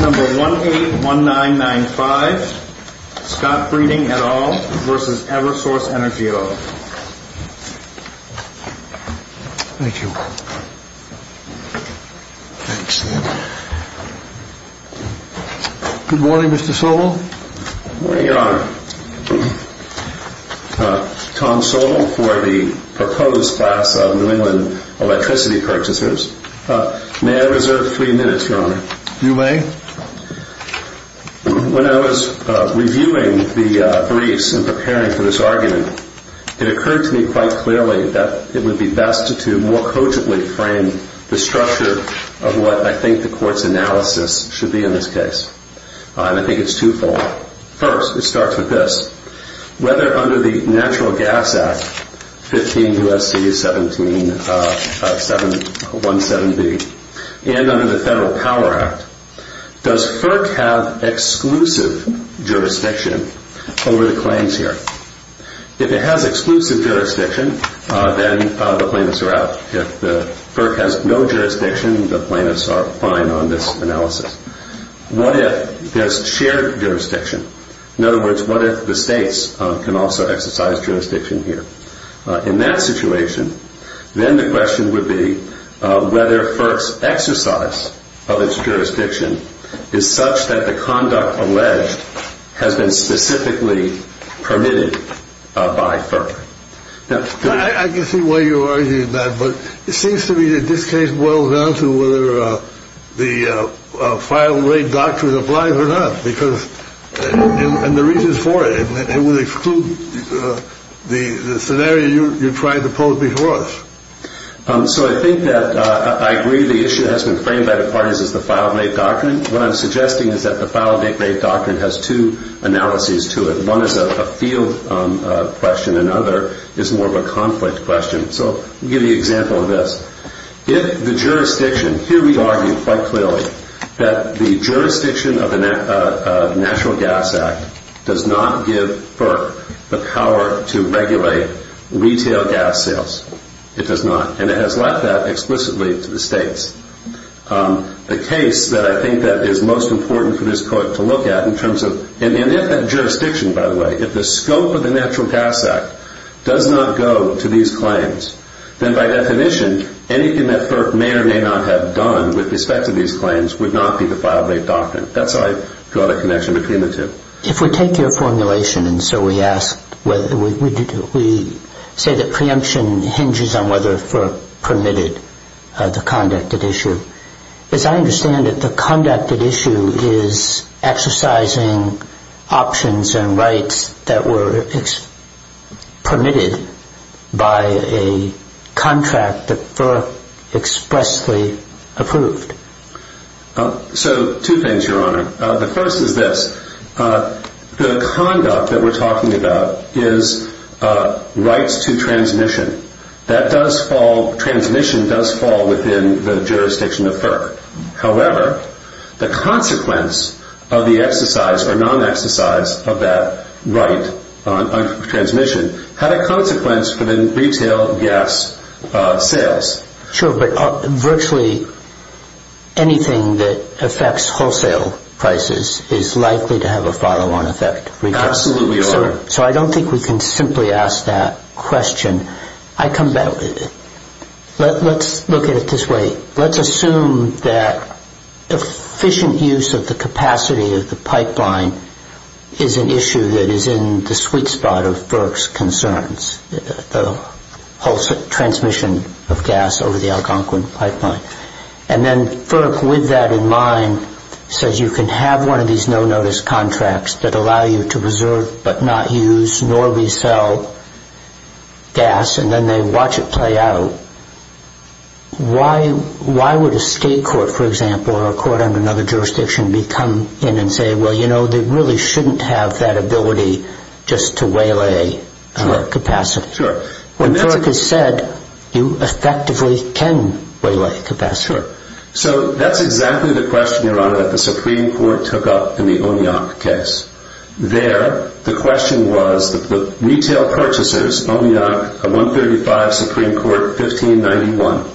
Number 181995, Scott Breiding et al. v. Eversource Energy O. Thank you. Thanks. Good morning, Mr. Sowell. Good morning, Your Honor. Tom Sowell for the proposed class of New England Electricity Purchasers. May I reserve three minutes, Your Honor? You may. When I was reviewing the briefs and preparing for this argument, it occurred to me quite clearly that it would be best to more coachably frame the structure of what I think the Court's analysis should be in this case. And I think it's twofold. First, it starts with this. Whether under the Natural Gas Act, 15 U.S.C. 1717b, and under the Federal Power Act, does FERC have exclusive jurisdiction over the claims here? If it has exclusive jurisdiction, then the plaintiffs are out. If the FERC has no jurisdiction, the plaintiffs are fine on this analysis. What if there's shared jurisdiction? In other words, what if the states can also exercise jurisdiction here? In that situation, then the question would be whether FERC's exercise of its jurisdiction is such that the conduct alleged has been specifically permitted by FERC. I can see why you're arguing that, but it seems to me that this case boils down to whether the file rate doctrine applies or not, and the reasons for it. It would exclude the scenario you're trying to pose before us. So I think that I agree the issue has been framed by the parties as the file rate doctrine. What I'm suggesting is that the file rate doctrine has two analyses to it. One is a field question. Another is more of a conflict question. So I'll give you an example of this. If the jurisdiction, here we argue quite clearly that the jurisdiction of the Natural Gas Act does not give FERC the power to regulate retail gas sales. It does not, and it has left that explicitly to the states. The case that I think that is most important for this court to look at in terms of, and if that jurisdiction, by the way, if the scope of the Natural Gas Act does not go to these claims, then by definition anything that FERC may or may not have done with respect to these claims would not be the file rate doctrine. That's how I draw the connection between the two. If we take your formulation, and so we ask, we say that preemption hinges on whether FERC permitted the conducted issue. As I understand it, the conducted issue is exercising options and rights that were permitted by a contract that FERC expressly approved. So two things, Your Honor. The first is this. The conduct that we're talking about is rights to transmission. That does fall, transmission does fall within the jurisdiction of FERC. However, the consequence of the exercise or non-exercise of that right on transmission had a consequence for the retail gas sales. Sure, but virtually anything that affects wholesale prices is likely to have a follow-on effect. Absolutely, Your Honor. So I don't think we can simply ask that question. Let's look at it this way. Let's assume that efficient use of the capacity of the pipeline is an issue that is in the sweet spot of FERC's concerns, the whole transmission of gas over the Algonquin pipeline. And then FERC, with that in mind, says you can have one of these no-notice contracts that allow you to reserve but not use nor resell gas, and then they watch it play out. Why would a state court, for example, or a court under another jurisdiction, come in and say, well, you know, they really shouldn't have that ability just to waylay capacity? Sure. When FERC has said you effectively can waylay capacity. Sure. So that's exactly the question, Your Honor, that the Supreme Court took up in the Oneok case. There, the question was that the retail purchasers, Oneok 135, Supreme Court 1591.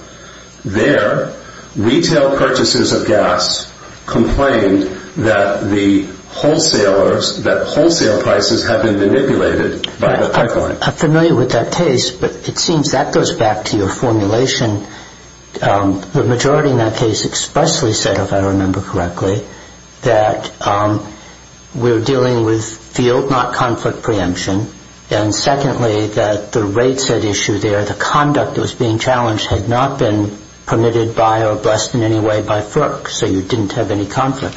There, retail purchasers of gas complained that the wholesalers, that wholesale prices had been manipulated by the pipeline. I'm familiar with that case, but it seems that goes back to your formulation. The majority in that case expressly said, if I remember correctly, that we're dealing with field, not conflict, preemption. And secondly, that the rates at issue there, the conduct that was being challenged, had not been permitted by or blessed in any way by FERC, so you didn't have any conflict.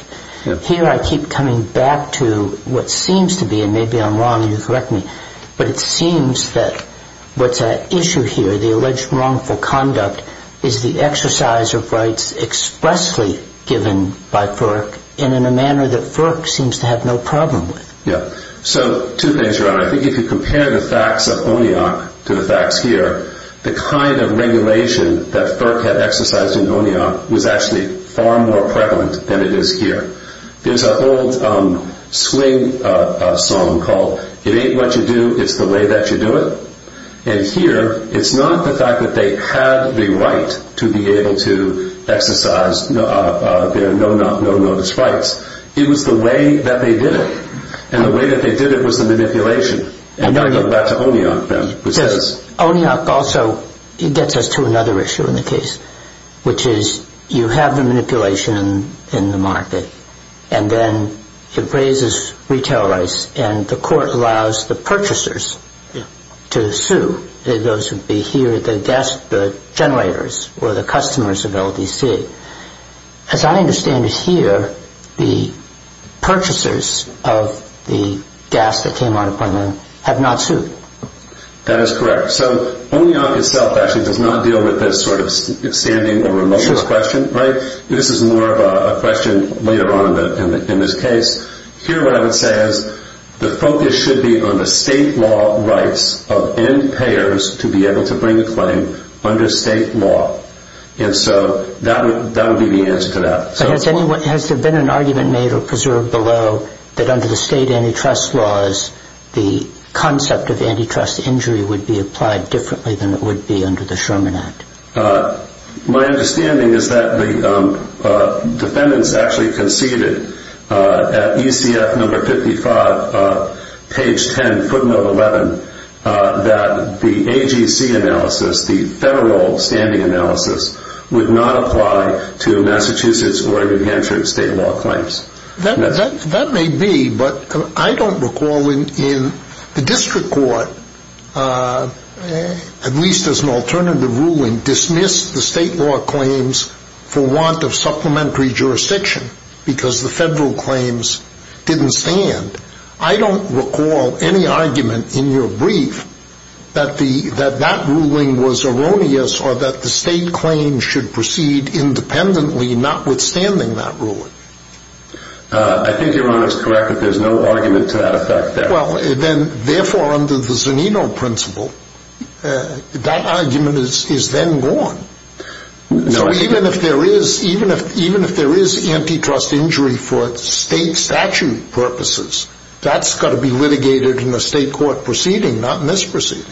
Here I keep coming back to what seems to be, and maybe I'm wrong, you correct me, but it seems that what's at issue here, the alleged wrongful conduct, is the exercise of rights expressly given by FERC, and in a manner that FERC seems to have no problem with. Yeah. So two things, Your Honor. I think if you compare the facts of Oneok to the facts here, the kind of regulation that FERC had exercised in Oneok was actually far more prevalent than it is here. There's an old swing song called, it ain't what you do, it's the way that you do it. And here, it's not the fact that they had the right to be able to exercise their no-notice rights. It was the way that they did it. And the way that they did it was the manipulation. And I go back to Oneok then. Oneok also gets us to another issue in the case, which is you have the manipulation in the market, and then it raises retail rights, and the court allows the purchasers to sue. Those would be here, the generators, or the customers of LDC. As I understand it here, the purchasers of the gas that came out of Oneok have not sued. That is correct. So Oneok itself actually does not deal with this sort of standing or remoteness question, right? Sure. This is more of a question later on in this case. Here what I would say is the focus should be on the state law rights of end payers to be able to bring a claim under state law. And so that would be the answer to that. Has there been an argument made or preserved below that under the state antitrust laws, the concept of antitrust injury would be applied differently than it would be under the Sherman Act? My understanding is that the defendants actually conceded at ECF number 55, page 10, footnote 11, that the AGC analysis, the federal standing analysis, would not apply to Massachusetts or New Hampshire state law claims. That may be, but I don't recall in the district court, at least as an alternative ruling, dismissed the state law claims for want of supplementary jurisdiction because the federal claims didn't stand. I don't recall any argument in your brief that that ruling was erroneous or that the state claims should proceed independently notwithstanding that ruling. I think Your Honor is correct that there's no argument to that effect there. Well, then therefore under the Zunino principle, that argument is then gone. So even if there is antitrust injury for state statute purposes, that's got to be litigated in a state court proceeding, not in this proceeding.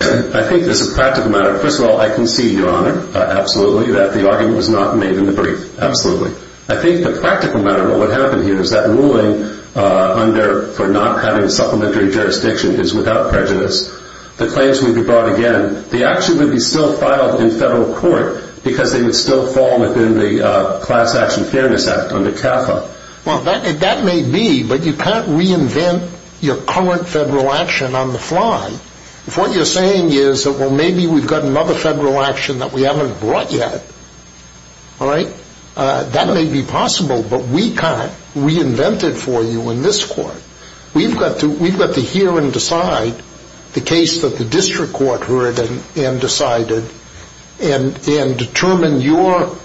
I think there's a practical matter. First of all, I concede, Your Honor, absolutely, that the argument was not made in the brief. Absolutely. I think the practical matter of what happened here is that ruling for not having supplementary jurisdiction is without prejudice. The claims would be brought again. The action would be still filed in federal court because they would still fall within the Class Action Fairness Act under CAFA. Well, that may be, but you can't reinvent your current federal action on the fly. If what you're saying is, well, maybe we've got another federal action that we haven't brought yet, all right, that may be possible, but we can't reinvent it for you in this court. We've got to hear and decide the case that the district court heard and decided and determine your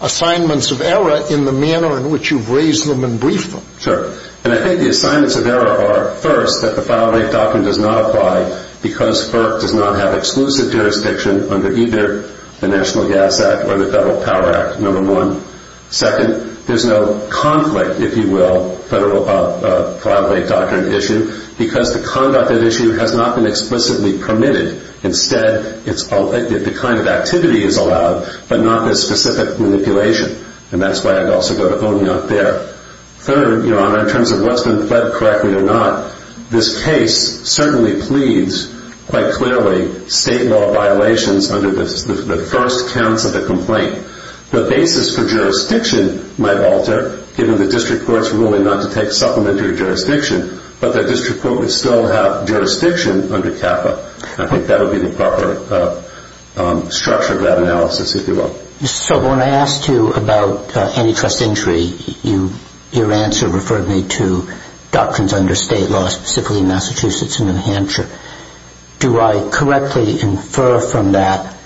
assignments of error in the manner in which you've raised them and briefed them. Sure. And I think the assignments of error are, first, that the file rate doctrine does not apply because FERC does not have exclusive jurisdiction under either the National Gas Act or the Federal Power Act, number one. Second, there's no conflict, if you will, federal file rate doctrine issue, because the conduct of the issue has not been explicitly permitted. Instead, the kind of activity is allowed, but not the specific manipulation. And that's why I'd also go to owning up there. Third, Your Honor, in terms of what's been fled correctly or not, this case certainly pleads quite clearly state law violations under the first counts of the complaint. The basis for jurisdiction might alter, given the district court's ruling not to take supplementary jurisdiction, but the district court would still have jurisdiction under CAFA. I think that would be the proper structure of that analysis, if you will. So when I asked you about antitrust injury, your answer referred me to doctrines under state law, specifically Massachusetts and New Hampshire. Do I correctly infer from that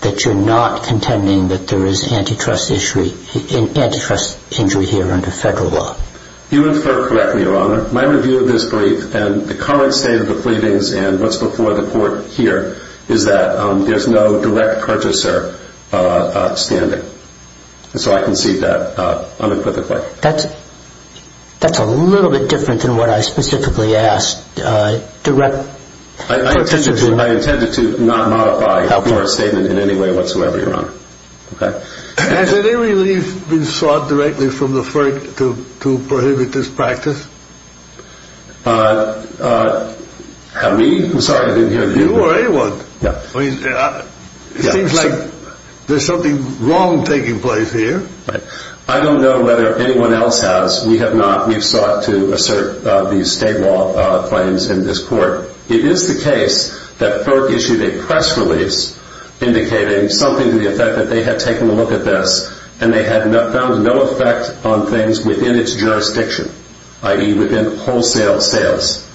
that you're not contending that there is antitrust injury here under federal law? You infer correctly, Your Honor. My review of this brief and the current state of the pleadings and what's before the court here is that there's no direct purchaser standing. So I concede that unequivocally. That's a little bit different than what I specifically asked. I intended to not modify your statement in any way whatsoever, Your Honor. Has any relief been sought directly from the FERC to prohibit this practice? Have we? I'm sorry, I didn't hear you. You or anyone. It seems like there's something wrong taking place here. I don't know whether anyone else has. We have not. We've sought to assert these state law claims in this court. It is the case that FERC issued a press release indicating something to the effect that they had taken a look at this and they had found no effect on things within its jurisdiction, i.e. within wholesale sales.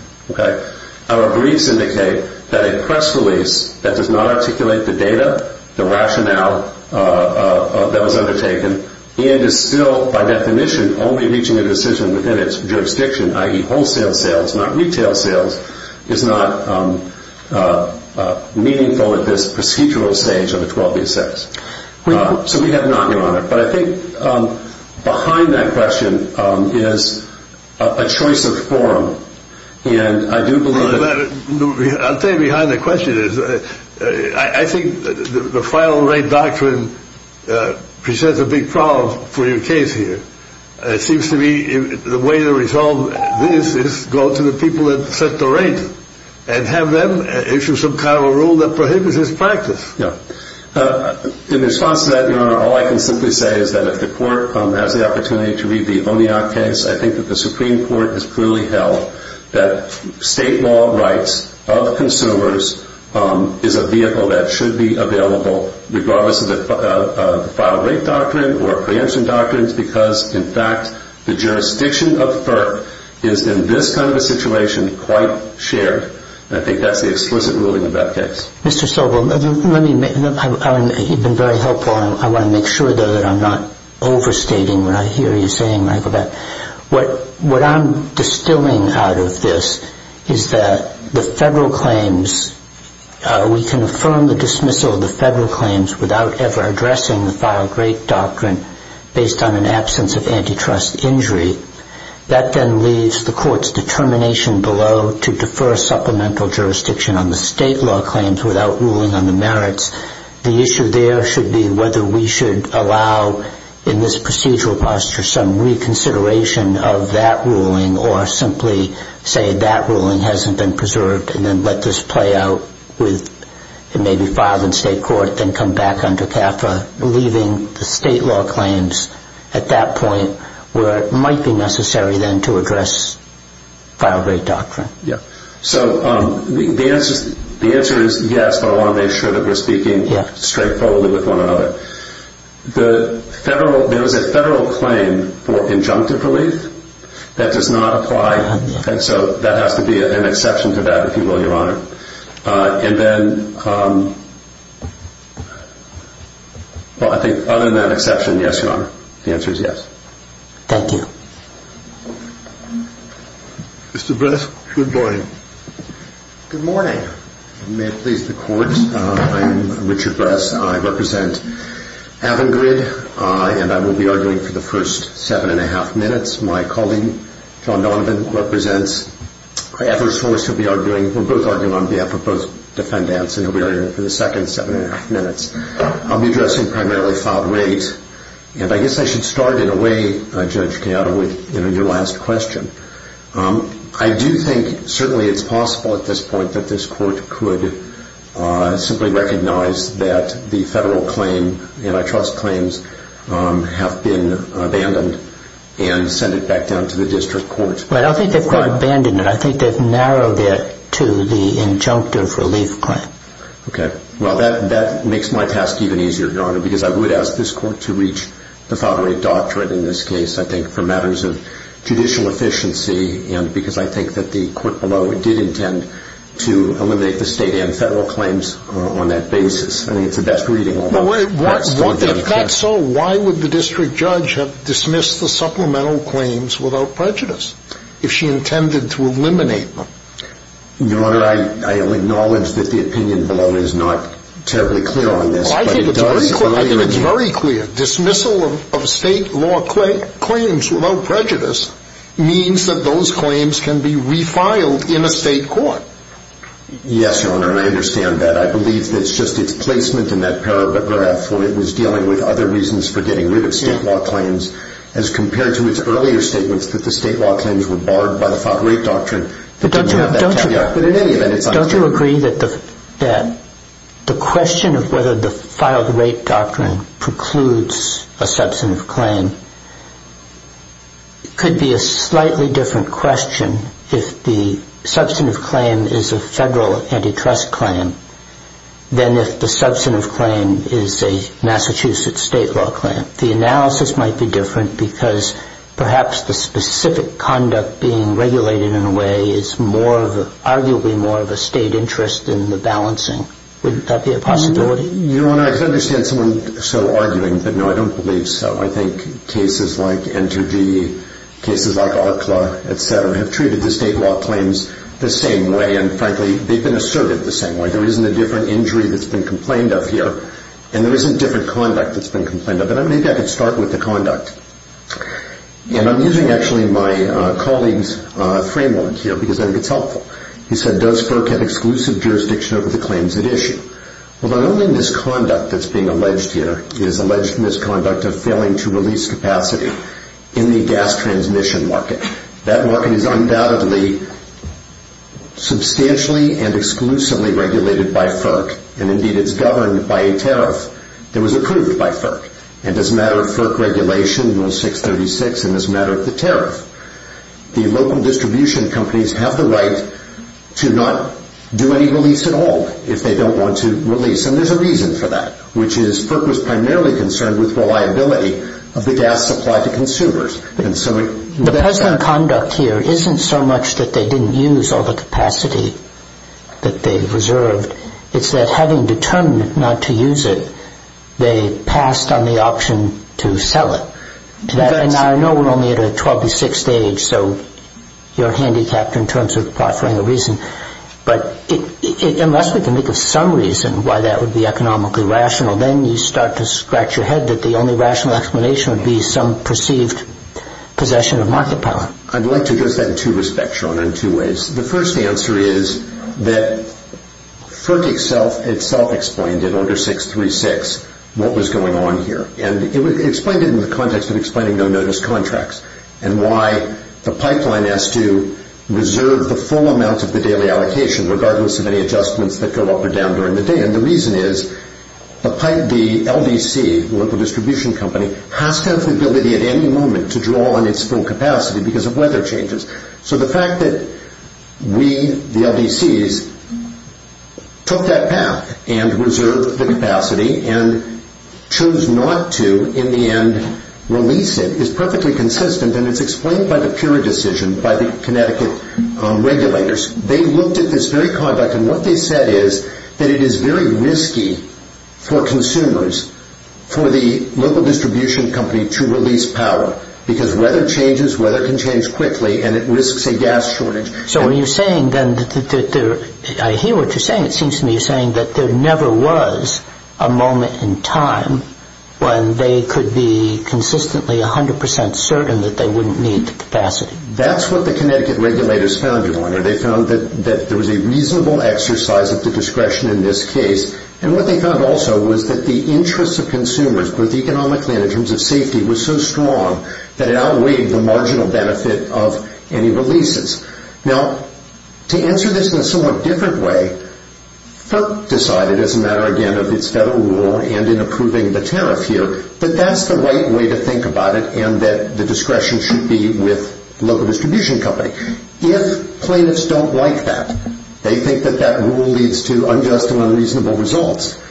Our briefs indicate that a press release that does not articulate the data, the rationale that was undertaken, and is still by definition only reaching a decision within its jurisdiction, i.e. wholesale sales, not retail sales, is not meaningful at this procedural stage of the 12B6. So we have not, Your Honor. But I think behind that question is a choice of forum. I'll tell you behind the question is, I think the final rate doctrine presents a big problem for your case here. It seems to me the way to resolve this is go to the people that set the rate and have them issue some kind of a rule that prohibits this practice. In response to that, Your Honor, all I can simply say is that if the court has the opportunity to read the O'Neill case, I think that the Supreme Court has clearly held that state law rights of consumers is a vehicle that should be available, regardless of the final rate doctrine or preemption doctrines, because, in fact, the jurisdiction of FERC is in this kind of a situation quite shared, and I think that's the explicit ruling of that case. Mr. Sobel, you've been very helpful. I want to make sure, though, that I'm not overstating what I hear you saying, Michael Beck. What I'm distilling out of this is that the federal claims, we can affirm the dismissal of the federal claims without ever addressing the final rate doctrine based on an absence of antitrust injury. That then leaves the court's determination below to defer supplemental jurisdiction on the state law claims without ruling on the merits. The issue there should be whether we should allow, in this procedural posture, some reconsideration of that ruling or simply say that ruling hasn't been preserved and then let this play out with maybe filing in state court, then come back under CAFA, leaving the state law claims at that point where it might be necessary then to address final rate doctrine. So the answer is yes, but I want to make sure that we're speaking straightforwardly with one another. There is a federal claim for injunctive relief that does not apply, and so that has to be an exception to that, if you will, Your Honor. And then, well, I think other than that exception, yes, Your Honor. The answer is yes. Thank you. Mr. Bress, good morning. Good morning. May it please the Court, I am Richard Bress. I represent Avangrid, and I will be arguing for the first 7 1⁄2 minutes. My colleague, John Donovan, represents Craver's Force. He'll be arguing. We're both arguing on behalf of both defendants, and he'll be arguing for the second 7 1⁄2 minutes. I'll be addressing primarily filed rate. And I guess I should start in a way, Judge Cato, with your last question. I do think certainly it's possible at this point that this Court could simply recognize that the federal claim, antitrust claims, have been abandoned and send it back down to the district court. Right. I think they've quite abandoned it. I think they've narrowed it to the injunctive relief claim. Okay. Well, that makes my task even easier, Your Honor, because I would ask this Court to reach the filed rate doctrine in this case, I think, for matters of judicial efficiency, and because I think that the court below did intend to eliminate the state and federal claims on that basis. I mean, it's the best reading on that. If that's so, why would the district judge have dismissed the supplemental claims without prejudice, if she intended to eliminate them? Your Honor, I acknowledge that the opinion below is not terribly clear on this. Well, I think it's very clear. I think it's very clear. Dismissal of state law claims without prejudice means that those claims can be refiled in a state court. Yes, Your Honor, and I understand that. I believe that it's just its placement in that paragraph where it was dealing with other reasons for getting rid of state law claims, as compared to its earlier statements that the state law claims were barred by the filed rate doctrine. But don't you agree that the question of whether the filed rate doctrine precludes a substantive claim could be a slightly different question if the substantive claim is a federal antitrust claim than if the substantive claim is a Massachusetts state law claim. The analysis might be different because perhaps the specific conduct being regulated in a way is arguably more of a state interest than the balancing. Wouldn't that be a possibility? Your Honor, I can understand someone so arguing, but no, I don't believe so. I think cases like Entergy, cases like ARCLA, etc., have treated the state law claims the same way, and frankly, they've been asserted the same way. There isn't a different injury that's been complained of here, and there isn't different conduct that's been complained of. But maybe I could start with the conduct. And I'm using, actually, my colleague's framework here because I think it's helpful. He said, does FERC have exclusive jurisdiction over the claims at issue? Well, the only misconduct that's being alleged here is alleged misconduct of failing to release capacity in the gas transmission market. That market is undoubtedly substantially and exclusively regulated by FERC, and indeed it's governed by a tariff that was approved by FERC. And as a matter of FERC regulation, Rule 636, and as a matter of the tariff, the local distribution companies have the right to not do any release at all if they don't want to release, and there's a reason for that, which is FERC was primarily concerned with reliability of the gas supply to consumers. The precedent conduct here isn't so much that they didn't use all the capacity that they reserved. It's that having determined not to use it, they passed on the option to sell it. And I know we're only at a 12 to 6 stage, so you're handicapped in terms of offering a reason. But unless we can think of some reason why that would be economically rational, then you start to scratch your head that the only rational explanation would be some perceived possession of market power. I'd like to address that in two respects, Sean, in two ways. The first answer is that FERC itself explained in Order 636 what was going on here. And it explained it in the context of explaining no-notice contracts and why the pipeline has to reserve the full amount of the daily allocation regardless of any adjustments that go up or down during the day. And the reason is the LDC, the local distribution company, has to have the ability at any moment to draw on its full capacity because of weather changes. So the fact that we, the LDCs, took that path and reserved the capacity and chose not to, in the end, release it, is perfectly consistent and it's explained by the PURE decision by the Connecticut regulators. They looked at this very conduct and what they said is that it is very risky for consumers, for the local distribution company, to release power because weather changes, weather can change quickly, and it risks a gas shortage. So what you're saying then, I hear what you're saying, it seems to me you're saying that there never was a moment in time when they could be consistently 100% certain that they wouldn't need the capacity. That's what the Connecticut regulators found, Your Honor. They found that there was a reasonable exercise of the discretion in this case. And what they found also was that the interests of consumers, both economically and in terms of safety, was so strong that it outweighed the marginal benefit of any releases. Now, to answer this in a somewhat different way, FERC decided, as a matter, again, of its federal rule and in approving the tariff here, that that's the right way to think about it and that the discretion should be with the local distribution company. If plaintiffs don't like that, they think that that rule leads to unjust and unreasonable results,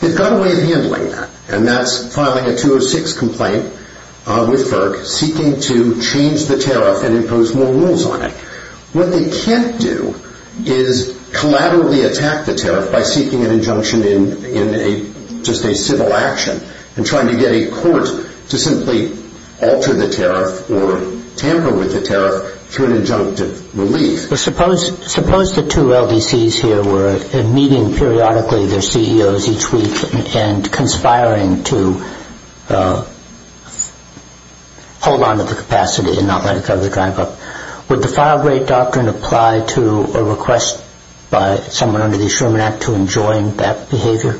they've got a way of handling that, and that's filing a 206 complaint with FERC seeking to change the tariff and impose more rules on it. What they can't do is collaboratively attack the tariff by seeking an injunction in just a civil action and trying to get a court to simply alter the tariff or tamper with the tariff through an injunctive relief. Suppose the two LDCs here were meeting periodically their CEOs each week and conspiring to hold on to the capacity and not let it go to the drive up. Would the file rate doctrine apply to a request by someone under the Sherman Act to enjoin that behavior?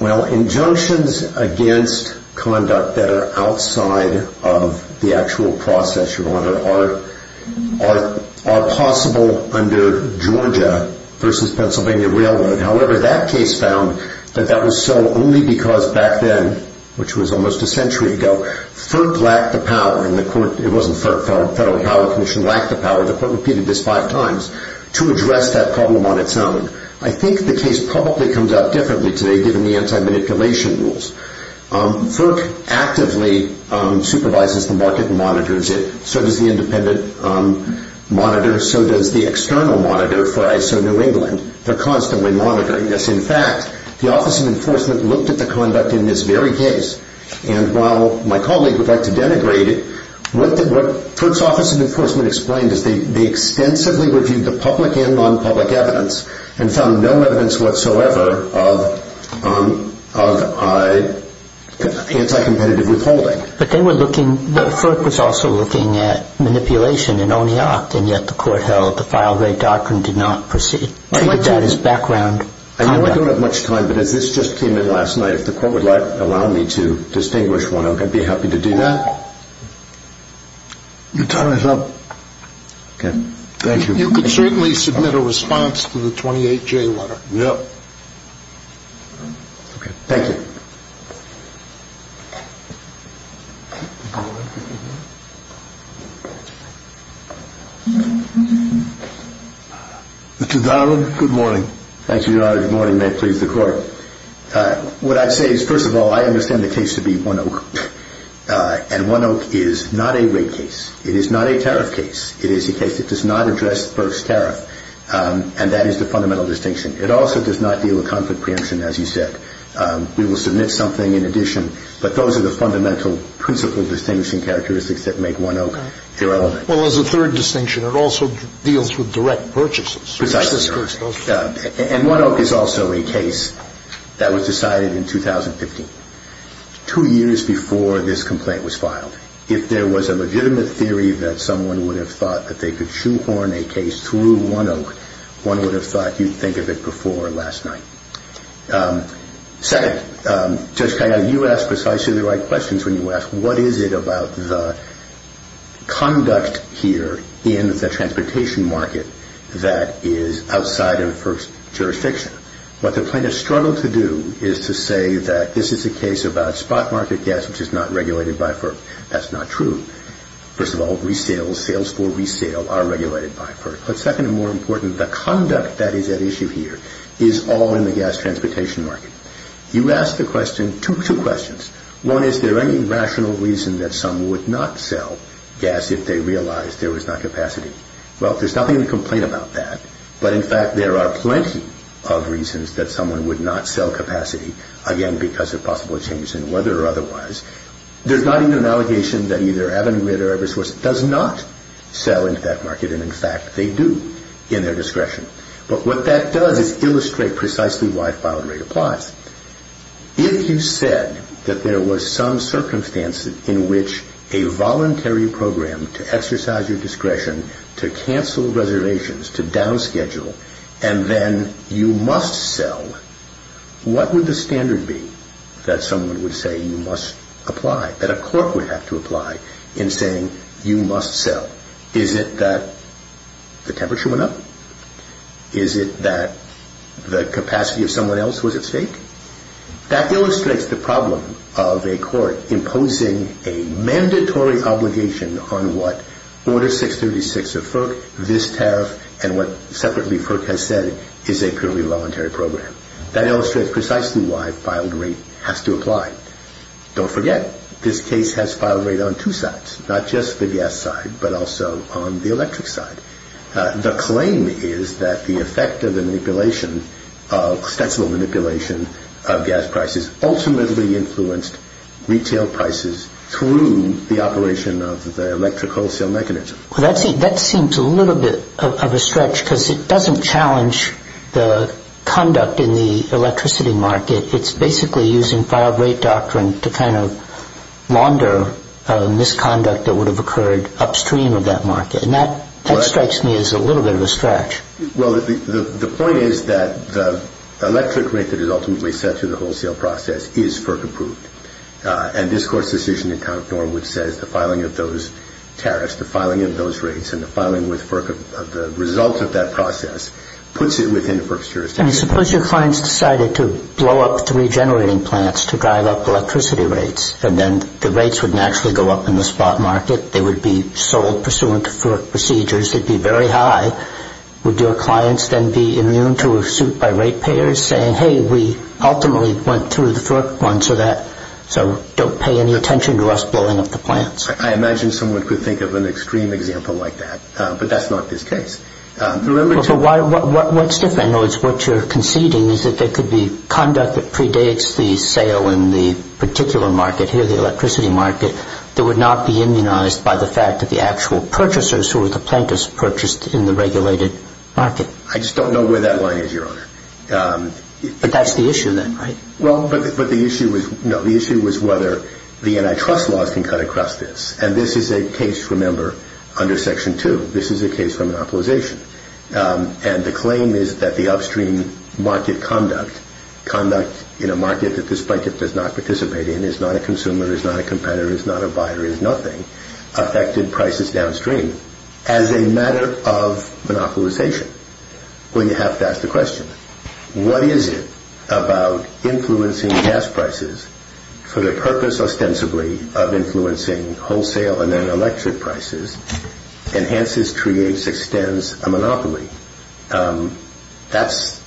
Well, injunctions against conduct that are outside of the actual process, Your Honor, are possible under Georgia versus Pennsylvania Railroad. However, that case found that that was so only because back then, which was almost a century ago, FERC lacked the power and the court, it wasn't FERC, Federal Power Commission, lacked the power. The court repeated this five times to address that problem on its own. I think the case probably comes out differently today given the anti-manipulation rules. FERC actively supervises the market and monitors it. So does the independent monitor. So does the external monitor for ISO New England. They're constantly monitoring this. In fact, the Office of Enforcement looked at the conduct in this very case and while my colleague would like to denigrate it, what FERC's Office of Enforcement explained is they extensively reviewed the public and non-public evidence and found no evidence whatsoever of anti-competitive withholding. But then we're looking, FERC was also looking at manipulation in Oneok and yet the court held the file rate doctrine did not proceed, treated that as background conduct. I know I don't have much time, but as this just came in last night, if the court would allow me to distinguish Oneok, I'd be happy to do that. You tie it up. Thank you. You can certainly submit a response to the 28J letter. Yep. Thank you. Mr. Donald, good morning. Thank you, Your Honor. Good morning. And may it please the Court. What I'd say is, first of all, I understand the case to be Oneok. And Oneok is not a rate case. It is not a tariff case. It is a case that does not address FERC's tariff. And that is the fundamental distinction. It also does not deal with conflict preemption, as you said. We will submit something in addition, but those are the fundamental principle distinguishing characteristics that make Oneok irrelevant. Well, as a third distinction, it also deals with direct purchases. Precisely. And Oneok is also a case that was decided in 2015, two years before this complaint was filed. If there was a legitimate theory that someone would have thought that they could shoehorn a case through Oneok, one would have thought you'd think of it before last night. Second, Judge Kayaga, you ask precisely the right questions when you ask, what is it about the conduct here in the transportation market that is outside of FERC's jurisdiction? What the plaintiff struggled to do is to say that this is a case about spot market gas, which is not regulated by FERC. That's not true. First of all, resales, sales for resale, are regulated by FERC. But second and more important, the conduct that is at issue here is all in the gas transportation market. You ask the question, two questions. One, is there any rational reason that someone would not sell gas if they realized there was not capacity? Well, there's nothing to complain about that. But in fact, there are plenty of reasons that someone would not sell capacity, again, because of possible changes in weather or otherwise. There's not even an allegation that either Avangrid or Eversource does not sell into that market. And in fact, they do, in their discretion. But what that does is illustrate precisely why the filing rate applies. If you said that there was some circumstance in which a voluntary program to exercise your discretion, to cancel reservations, to downschedule, and then you must sell, what would the standard be that someone would say you must apply, that a court would have to apply in saying you must sell? Is it that the temperature went up? Is it that the capacity of someone else was at stake? That illustrates the problem of a court imposing a mandatory obligation on what Order 636 of FERC, this tariff, and what separately FERC has said is a purely voluntary program. That illustrates precisely why filed rate has to apply. Don't forget, this case has filed rate on two sides, not just the gas side, but also on the electric side. The claim is that the effect of the manipulation, of extensible manipulation of gas prices, ultimately influenced retail prices through the operation of the electric wholesale mechanism. Well, that seems a little bit of a stretch because it doesn't challenge the conduct in the electricity market. It's basically using filed rate doctrine to kind of launder misconduct that would have occurred upstream of that market. And that strikes me as a little bit of a stretch. Well, the point is that the electric rate that is ultimately set through the wholesale process is FERC approved. And this Court's decision in Count Norwood says the filing of those tariffs, the filing of those rates, and the filing with FERC of the results of that process puts it within the FERC's jurisdiction. Suppose your clients decided to blow up the regenerating plants to drive up electricity rates, and then the rates would naturally go up in the spot market. They would be sold pursuant to FERC procedures. They'd be very high. Would your clients then be immune to a suit by rate payers saying, hey, we ultimately went through the FERC one, so don't pay any attention to us blowing up the plants? I imagine someone could think of an extreme example like that, but that's not this case. What's different, in other words, what you're conceding is that there could be conduct that predates the sale in the particular market, here the electricity market, that would not be immunized by the fact that the actual purchasers who were the planters purchased in the regulated market. I just don't know where that line is, Your Honor. But that's the issue then, right? Well, but the issue was whether the antitrust laws can cut across this. And this is a case, remember, under Section 2. This is a case for monopolization. And the claim is that the upstream market conduct, conduct in a market that this blanket does not participate in, is not a consumer, is not a competitor, is not a buyer, is nothing, affected prices downstream. As a matter of monopolization, well, you have to ask the question, what is it about influencing gas prices for the purpose ostensibly of influencing wholesale and then electric prices enhances, creates, extends a monopoly? That's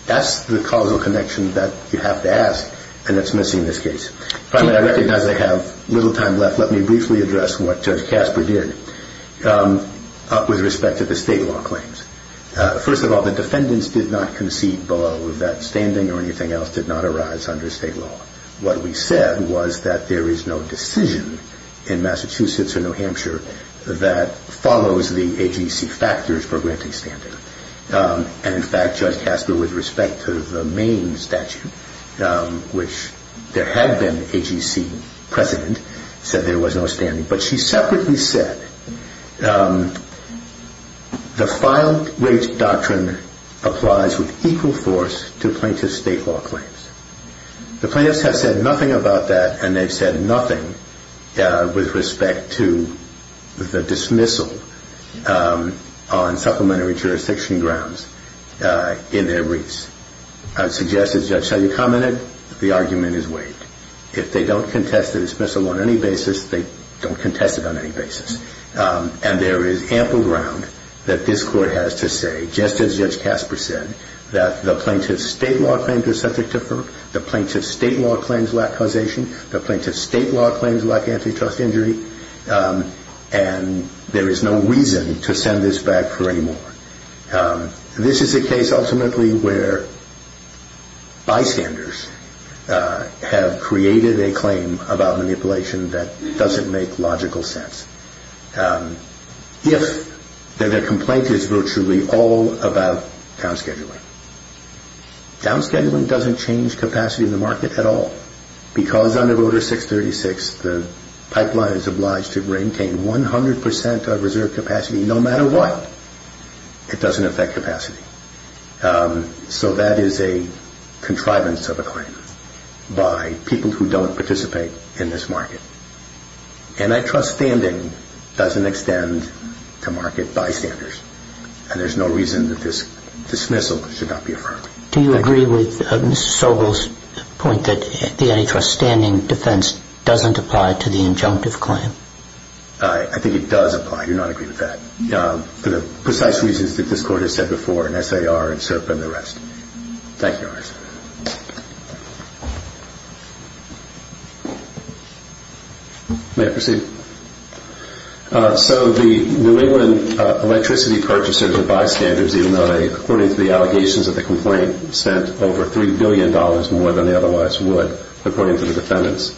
the causal connection that you have to ask, and it's missing in this case. But I recognize I have little time left. Let me briefly address what Judge Casper did with respect to the state law claims. First of all, the defendants did not concede below that standing or anything else did not arise under state law. What we said was that there is no decision in Massachusetts or New Hampshire that follows the AGC factors for granting standing. And, in fact, Judge Casper, with respect to the Maine statute, which there had been AGC precedent, said there was no standing. But she separately said the filed rates doctrine applies with equal force to plaintiff state law claims. The plaintiffs have said nothing about that, and they've said nothing with respect to the dismissal on supplementary jurisdiction grounds in their wreaths. I would suggest, as Judge Shiley commented, the argument is weighed. If they don't contest the dismissal on any basis, they don't contest it on any basis. And there is ample ground that this Court has to say, just as Judge Casper said, that the plaintiff's state law claims are subject to FERC. The plaintiff's state law claims lack causation. The plaintiff's state law claims lack antitrust injury. And there is no reason to send this back for any more. This is a case, ultimately, where bystanders have created a claim about manipulation that doesn't make logical sense, if their complaint is virtually all about downscheduling. Downscheduling doesn't change capacity in the market at all, because under Voter 636, the pipeline is obliged to maintain 100 percent of reserve capacity no matter what. It doesn't affect capacity. So that is a contrivance of a claim by people who don't participate in this market. Antitrust standing doesn't extend to market bystanders, and there's no reason that this dismissal should not be affirmed. Do you agree with Mr. Sobel's point that the antitrust standing defense doesn't apply to the injunctive claim? I think it does apply. I do not agree with that, for the precise reasons that this Court has said before in SAR and SERPA and the rest. Thank you, Your Honor. May I proceed? So the New England electricity purchasers are bystanders, even though they, according to the allegations of the complaint, spent over $3 billion more than they otherwise would, according to the defendants.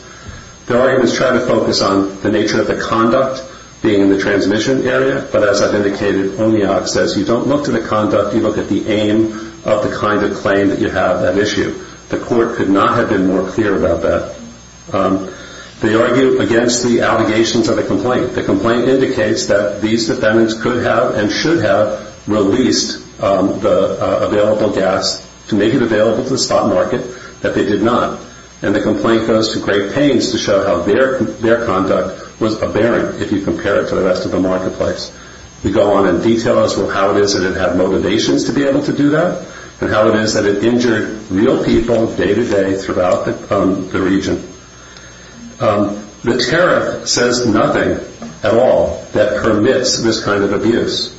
Their argument is trying to focus on the nature of the conduct being in the transmission area, but as I've indicated, ONIOC says you don't look to the conduct, you look at the aim of the kind of claim that you have, that issue. The Court could not have been more clear about that. They argue against the allegations of the complaint. The complaint indicates that these defendants could have and should have released the available gas to make it available to the stock market, but they did not, and the complaint goes to great pains to show how their conduct was aberrant if you compare it to the rest of the marketplace. They go on and detail as well how it is that it had motivations to be able to do that and how it is that it injured real people day to day throughout the region. The tariff says nothing at all that permits this kind of abuse.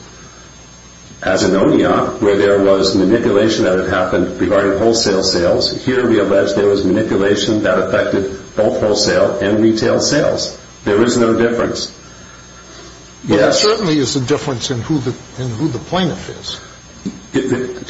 As in ONIOC, where there was manipulation that had happened regarding wholesale sales, here we allege there was manipulation that affected both wholesale and retail sales. There is no difference. There certainly is a difference in who the plaintiff is.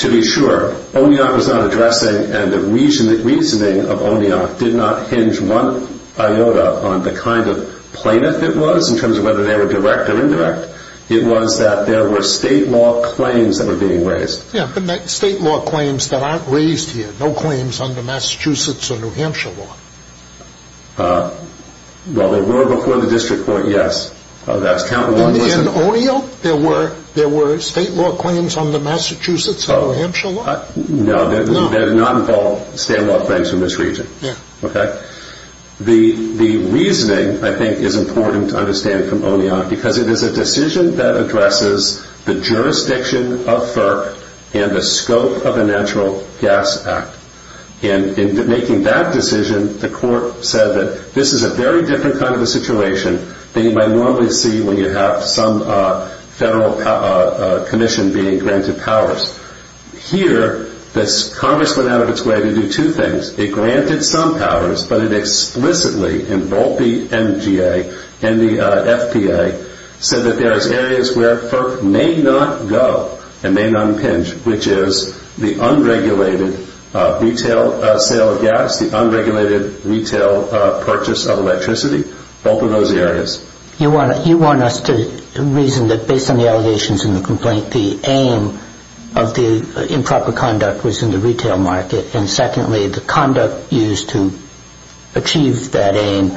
To be sure, ONIOC was not addressing, and the reasoning of ONIOC did not hinge one iota on the kind of plaintiff it was in terms of whether they were direct or indirect. It was that there were state law claims that were being raised. Yeah, but state law claims that aren't raised here, no claims under Massachusetts or New Hampshire law. Well, there were before the District Court, yes. In ONIOC, there were state law claims under Massachusetts or New Hampshire law? No, there did not involve state law claims in this region. The reasoning, I think, is important to understand from ONIOC because it is a decision that addresses the jurisdiction of FERC and the scope of the Natural Gas Act. In making that decision, the court said that this is a very different kind of a situation than you might normally see when you have some federal commission being granted powers. Here, Congress went out of its way to do two things. It granted some powers, but it explicitly, in both the MGA and the FPA, said that there are areas where FERC may not go and may not impinge, which is the unregulated retail sale of gas, the unregulated retail purchase of electricity. Both of those areas. You want us to reason that based on the allegations in the complaint, the aim of the improper conduct was in the retail market, and secondly, the conduct used to achieve that aim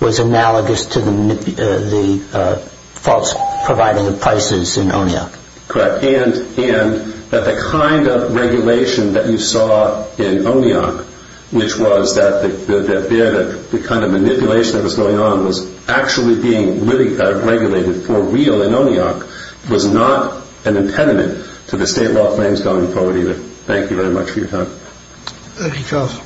was analogous to the false providing of prices in ONIOC. Correct, and that the kind of regulation that you saw in ONIOC, which was that the kind of manipulation that was going on was actually being regulated for real in ONIOC, was not an impediment to the state law claims going forward either. Thank you very much for your time. Thank you, Charles.